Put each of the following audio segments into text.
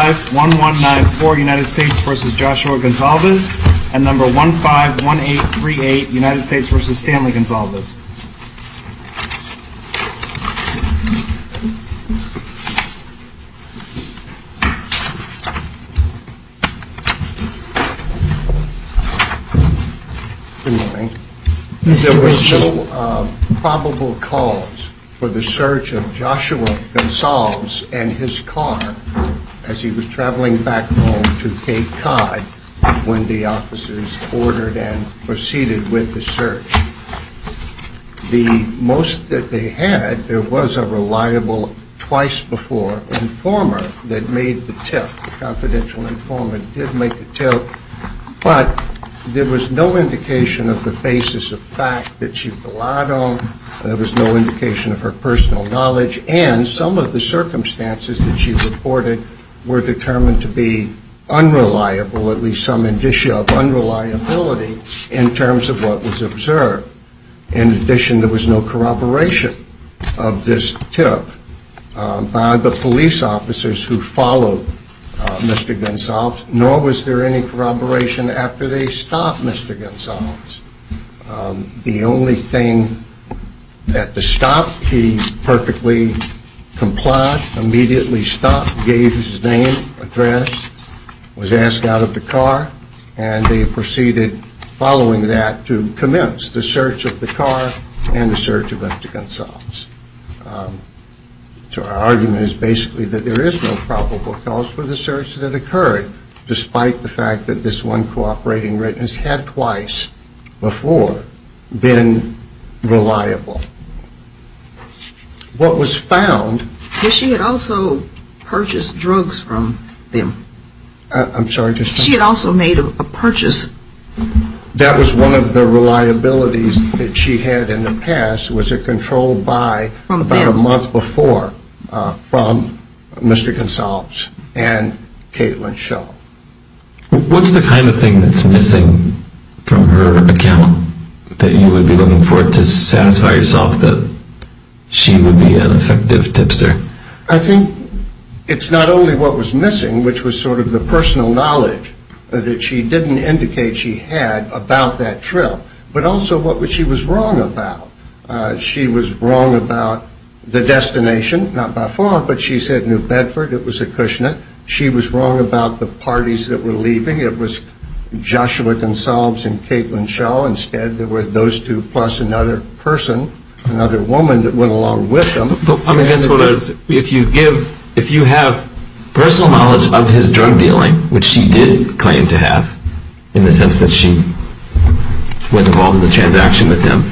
1-5-1-1-9-4 United States v. Joshua Gonsalves, and 1-5-1-8-3-8 United States v. Stanley Gonsalves. Good morning. There were no probable cause for the search of Joshua Gonsalves and his car as he was traveling back home to Cape Cod when the officers ordered and proceeded with the search. The most that they had, there was a reliable twice-before informer that made the tip, a confidential informer did make the tip, but there was no indication of the basis of fact that she relied on, there was no indication of her personal knowledge, and some of the circumstances that she reported were determined to be unreliable, at least some indicia of unreliability in terms of what was observed. In addition, there was no corroboration of this tip by the police officers who followed Mr. Gonsalves, nor was there any corroboration after they stopped Mr. Gonsalves. The only thing that the stop, he perfectly complied, immediately stopped, gave his name, address, was asked out of the car, and they proceeded following that to commence the search of the car and the search of Mr. Gonsalves. So our argument is basically that there is no probable cause for the search that occurred, despite the fact that this one cooperating witness had twice before been reliable. What was found... But she had also purchased drugs from them. I'm sorry, just... She had also made a purchase... That was one of the reliabilities that she had in the past, was a controlled buy about a month before from Mr. Gonsalves and Caitlin Schell. What's the kind of thing that's missing from her account that you would be looking for to satisfy yourself that she would be an effective tipster? I think it's not only what was missing, which was sort of the personal knowledge that she didn't indicate she had about that trip, but also what she was wrong about. She was wrong about the destination, not by far, but she said New Bedford, it was a Kushner. She was wrong about the parties that were leaving. It was Joshua Gonsalves and Caitlin Schell. Instead, there were those two plus another person, another woman that went along with them. If you have personal knowledge of his drug dealing, which she did claim to have, in the sense that she was involved in the transaction with him,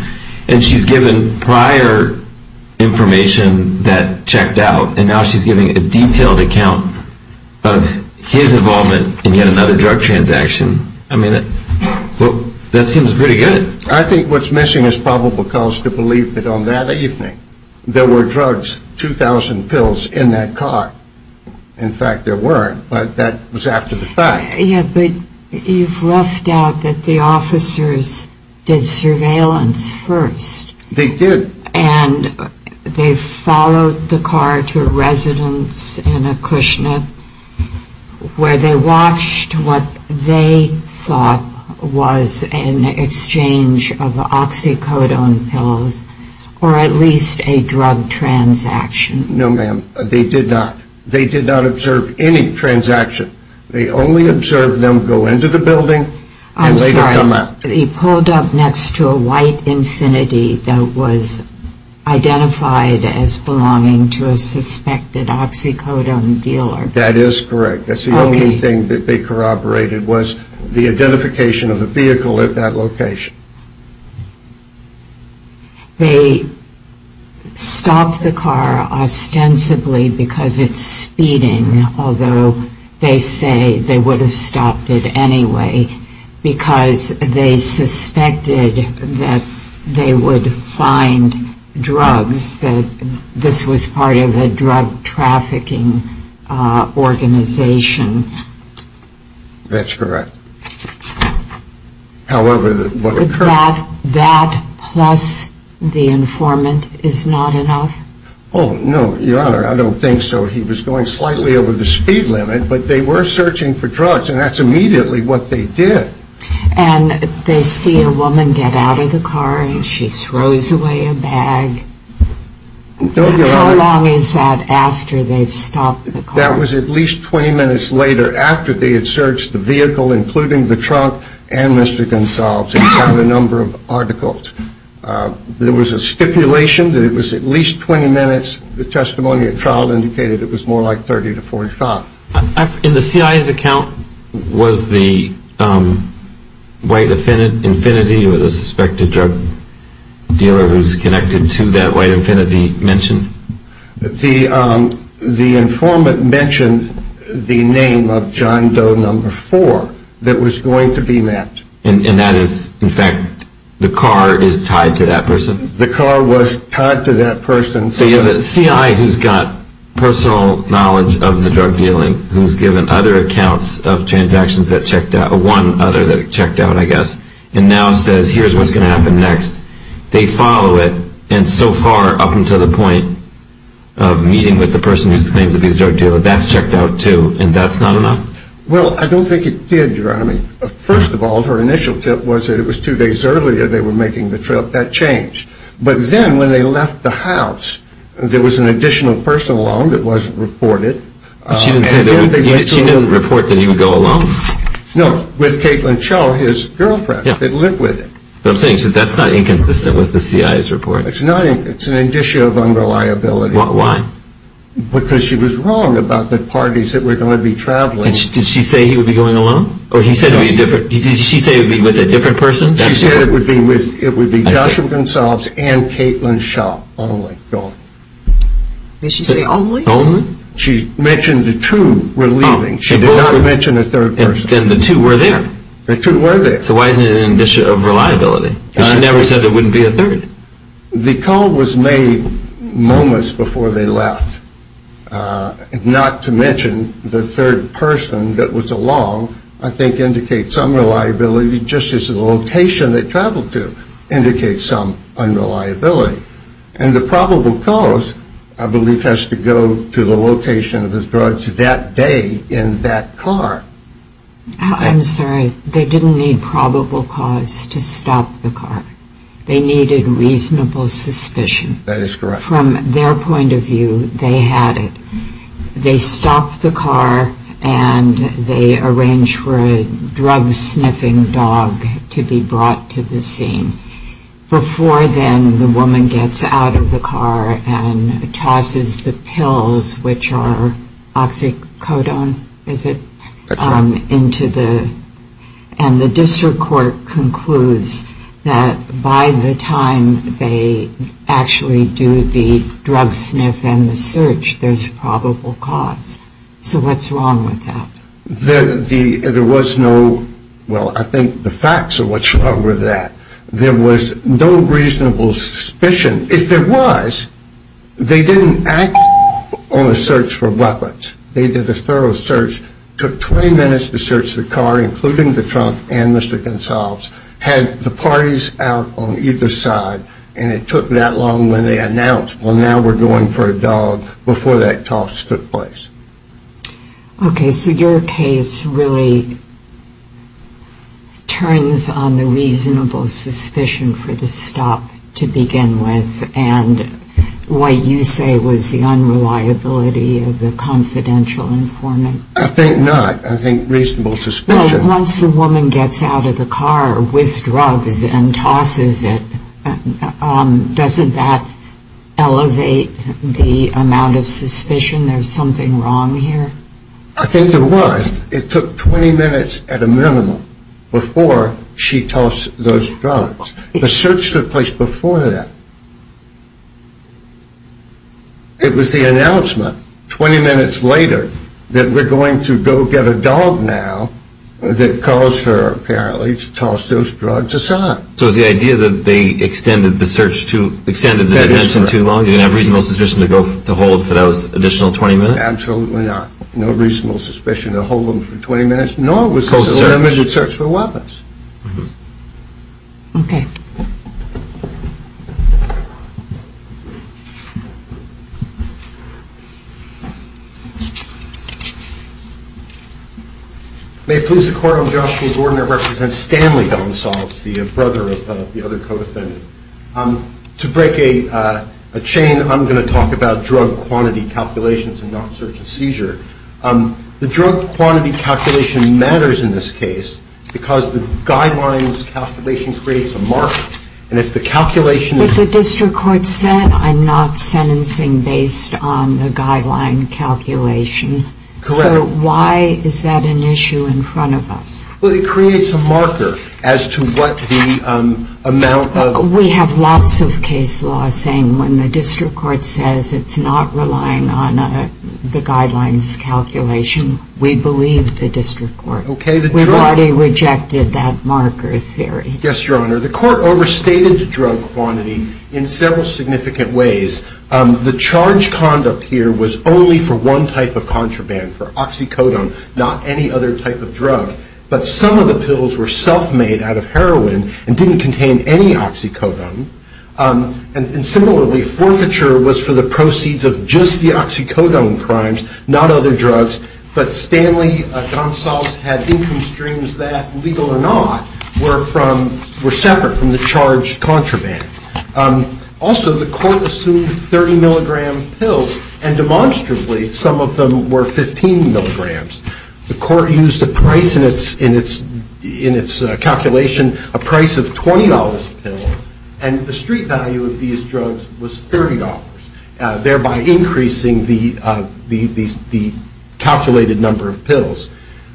and she's given prior information that checked out, and now she's giving a detailed account of his involvement in yet another drug transaction. I mean, that seems pretty good. I think what's missing is probable cause to believe that on that evening, there were drugs, 2,000 pills in that car. In fact, there weren't, but that was after the fact. Yeah, but you've left out that the officers did surveillance first. They did. And they followed the car to a residence in a Kushner, where they watched what they thought was an exchange of oxycodone pills, or at least a drug transaction. No, ma'am, they did not. They did not observe any transaction. They only observed them go into the building and later come out. He pulled up next to a white Infiniti that was identified as belonging to a suspected oxycodone dealer. That is correct. That's the only thing that they corroborated was the identification of the vehicle at that location. They stopped the car ostensibly because it's speeding, although they say they would have stopped it anyway, because they suspected that they would find drugs, that this was part of a drug trafficking organization. That's correct. However, what occurred... That plus the informant is not enough? Oh, no, Your Honor, I don't think so. He was going slightly over the speed limit, but they were searching for drugs, and that's immediately what they did. And they see a woman get out of the car and she throws away a bag. No, Your Honor. How long is that after they've stopped the car? That was at least 20 minutes later after they had searched the vehicle, including the trunk and Mr. Gonsalves, and found a number of articles. There was a stipulation that it was at least 20 minutes. The testimony at trial indicated it was more like 30 to 45. In the CIA's account, was the white Infiniti or the suspected drug dealer who's connected to that white Infiniti mentioned? The informant mentioned the name of John Doe number four that was going to be met. And that is, in fact, the car is tied to that person? The car was tied to that person. So you have a CI who's got personal knowledge of the drug dealing, who's given other accounts of transactions that checked out, one other that checked out, I guess, and now says here's what's going to happen next. They follow it, and so far, up until the point of meeting with the person who's claimed to be the drug dealer, that's checked out, too, and that's not enough? Well, I don't think it did, Your Honor. First of all, her initial tip was that it was two days earlier they were making the trip. That changed. But then when they left the house, there was an additional person along that wasn't reported. She didn't report that he would go alone? No, with Caitlin Cho, his girlfriend. Yeah. They'd live with him. What I'm saying is that that's not inconsistent with the CI's report. It's not inconsistent. It's an indicia of unreliability. Why? Because she was wrong about the parties that were going to be traveling. Did she say he would be going alone? No. Or did she say it would be with a different person? She said it would be Joshua Goncalves and Caitlin Cho only, Your Honor. Did she say only? Only. She mentioned the two were leaving. She did not mention a third person. Then the two were there. The two were there. So why isn't it an indicia of reliability? Because she never said there wouldn't be a third. The call was made moments before they left. Not to mention the third person that was along I think indicates some reliability just as the location they traveled to indicates some unreliability. And the probable cause, I believe, has to go to the location of his drugs that day in that car. I'm sorry. They didn't need probable cause to stop the car. They needed reasonable suspicion. That is correct. From their point of view, they had it. They stopped the car and they arranged for a drug-sniffing dog to be brought to the scene. Before then, the woman gets out of the car and tosses the pills, which are oxycodone, is it? That's right. And the district court concludes that by the time they actually do the drug-sniff and the search, there's probable cause. So what's wrong with that? There was no, well, I think the facts are what's wrong with that. There was no reasonable suspicion. If there was, they didn't act on a search for weapons. They did a thorough search, took 20 minutes to search the car, including the trunk and Mr. Gonsalves, had the parties out on either side, and it took that long when they announced, well, now we're going for a dog before that toss took place. Okay. So your case really turns on the reasonable suspicion for the stop to begin with and what you say was the unreliability of the confidential informant. I think not. I think reasonable suspicion. Well, once the woman gets out of the car with drugs and tosses it, doesn't that elevate the amount of suspicion there's something wrong here? I think there was. It took 20 minutes at a minimum before she tossed those drugs. The search took place before that. It was the announcement 20 minutes later that we're going to go get a dog now that caused her, apparently, to toss those drugs aside. So it was the idea that they extended the search to, extended the detention too long? You didn't have reasonable suspicion to hold for those additional 20 minutes? Absolutely not. No reasonable suspicion to hold them for 20 minutes, nor was there a limited search for weapons. Okay. May it please the Court, I'm Joshua Gordner. I represent Stanley Gonsalves, the brother of the other co-defendant. To break a chain, I'm going to talk about drug quantity calculations and not search and seizure. The drug quantity calculation matters in this case because the guidelines calculation creates a marker. And if the calculation of the district court said, I'm not sentencing based on the guideline calculation. Correct. So why is that an issue in front of us? Well, it creates a marker as to what the amount of. We have lots of case laws saying when the district court says it's not relying on the guidelines calculation, we believe the district court. We've already rejected that marker theory. Yes, Your Honor. The court overstated the drug quantity in several significant ways. The charge conduct here was only for one type of contraband, for oxycodone, not any other type of drug. But some of the pills were self-made out of heroin and didn't contain any oxycodone. And similarly, forfeiture was for the proceeds of just the oxycodone crimes, not other drugs. But Stanley Gonsalves had income streams that, legal or not, were separate from the charged contraband. Also, the court assumed 30 milligram pills, and demonstrably, some of them were 15 milligrams. The court used a price in its calculation, a price of $20 a pill, and the street value of these drugs was $30, thereby increasing the calculated number of pills.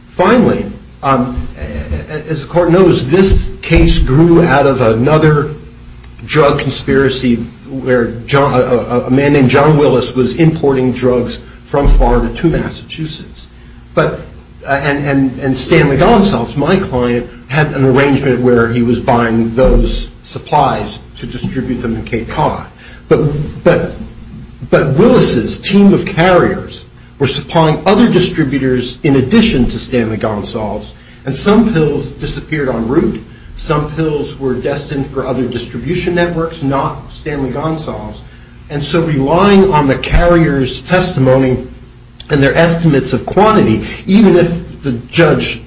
Finally, as the court knows, this case grew out of another drug conspiracy where a man named John Willis was importing drugs from Florida to Massachusetts. And Stanley Gonsalves, my client, had an arrangement where he was buying those supplies to distribute them in Cape Cod. But Willis's team of carriers were supplying other distributors in addition to Stanley Gonsalves, and some pills disappeared en route. Some pills were destined for other distribution networks, not Stanley Gonsalves. And so relying on the carrier's testimony and their estimates of quantity, even if the judge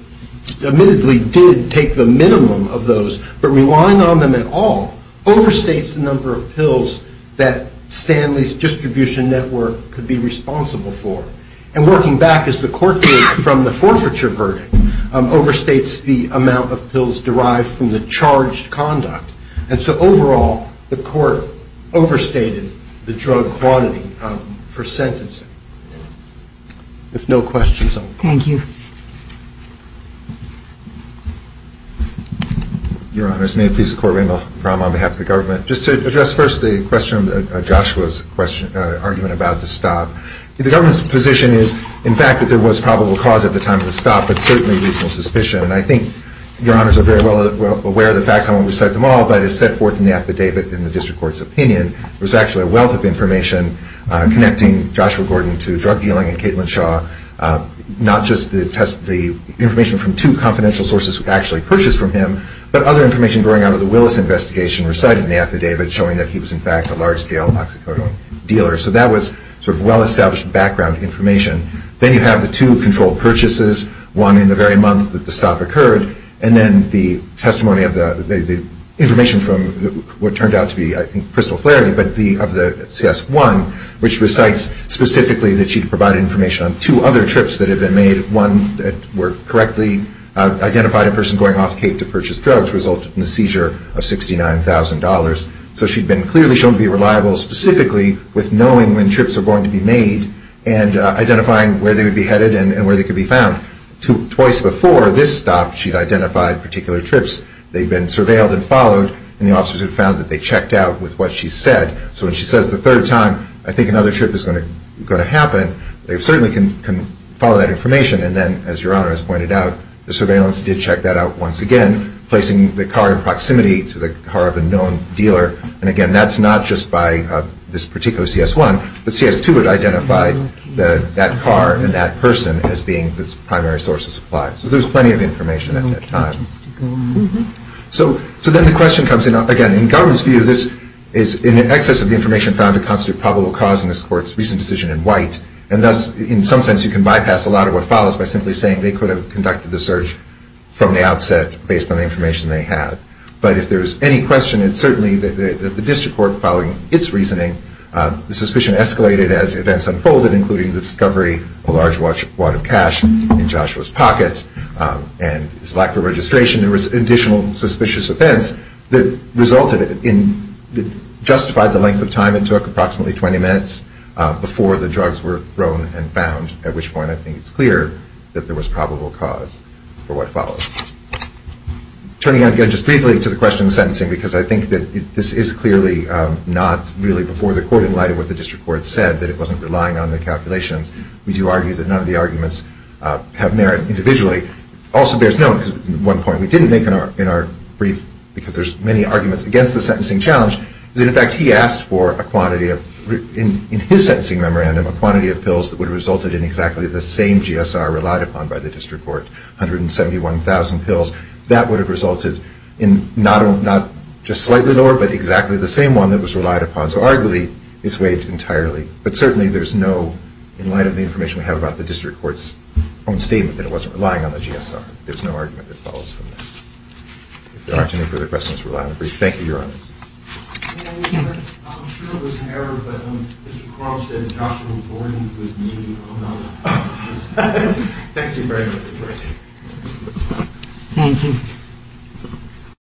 admittedly did take the minimum of those, but relying on them at all, overstates the number of pills that Stanley's distribution network could be responsible for. And working back, as the court did from the forfeiture verdict, overstates the amount of pills derived from the charged conduct. And so overall, the court overstated the drug quantity for sentencing. If no questions, I'll call. Thank you. Your Honors, may it please the Court, Ringo Graham on behalf of the government. Just to address first the question of Joshua's argument about the stop, the government's position is, in fact, that there was probable cause at the time of the stop, but certainly reasonable suspicion. And I think Your Honors are very well aware of the facts. I won't recite them all, but as set forth in the affidavit in the district court's opinion, there was actually a wealth of information connecting Joshua Gordon to drug dealing and Caitlin Shaw, not just the information from two confidential sources actually purchased from him, but other information growing out of the Willis investigation recited in the affidavit showing that he was, in fact, a large-scale Oxycodone dealer. So that was sort of well-established background information. Then you have the two controlled purchases, one in the very month that the stop occurred, and then the testimony of the information from what turned out to be, I think, Crystal Flurry of the CS1, which recites specifically that she provided information on two other trips that had been made, one that correctly identified a person going off Cape to purchase drugs, resulting in the seizure of $69,000. So she'd been clearly shown to be reliable specifically with knowing when trips are going to be made and identifying where they would be headed and where they could be found. Twice before this stop, she'd identified particular trips. They'd been surveilled and followed, and the officers had found that they checked out with what she said. So when she says the third time, I think another trip is going to happen, they certainly can follow that information. And then, as Your Honor has pointed out, the surveillance did check that out once again, placing the car in proximity to the car of a known dealer. And, again, that's not just by this particular CS1, but CS2 had identified that car and that person as being the primary source of supply. So there's plenty of information at that time. So then the question comes in, again, in government's view, this is in excess of the information found to constitute probable cause in this court's recent decision in white. And thus, in some sense, you can bypass a lot of what follows by simply saying they could have conducted the search from the outset based on the information they had. But if there's any question, it's certainly that the district court, following its reasoning, the suspicion escalated as events unfolded, including the discovery of a large wad of cash in Joshua's pocket, and his lack of registration. There was additional suspicious events that resulted in, justified the length of time. It took approximately 20 minutes before the drugs were thrown and found, at which point I think it's clear that there was probable cause for what follows. Turning, again, just briefly to the question of sentencing, because I think that this is clearly not really before the court in light of what the district court said, that it wasn't relying on the calculations. We do argue that none of the arguments have merit individually. Also bears note, one point we didn't make in our brief, because there's many arguments against the sentencing challenge, is that, in fact, he asked for a quantity of, in his sentencing memorandum, a quantity of pills that would have resulted in exactly the same GSR relied upon by the district court, 171,000 pills. That would have resulted in not just slightly lower, but exactly the same one that was relied upon. So arguably it's weighed entirely. But certainly there's no, in light of the information we have about the district court's own statement, that it wasn't relying on the GSR. There's no argument that follows from this. If there aren't any further questions, we'll end the brief. Thank you. You're on. I'm sure it was an error, but Mr. Crom said Joshua Gordon would be on. Thank you very much. Thank you.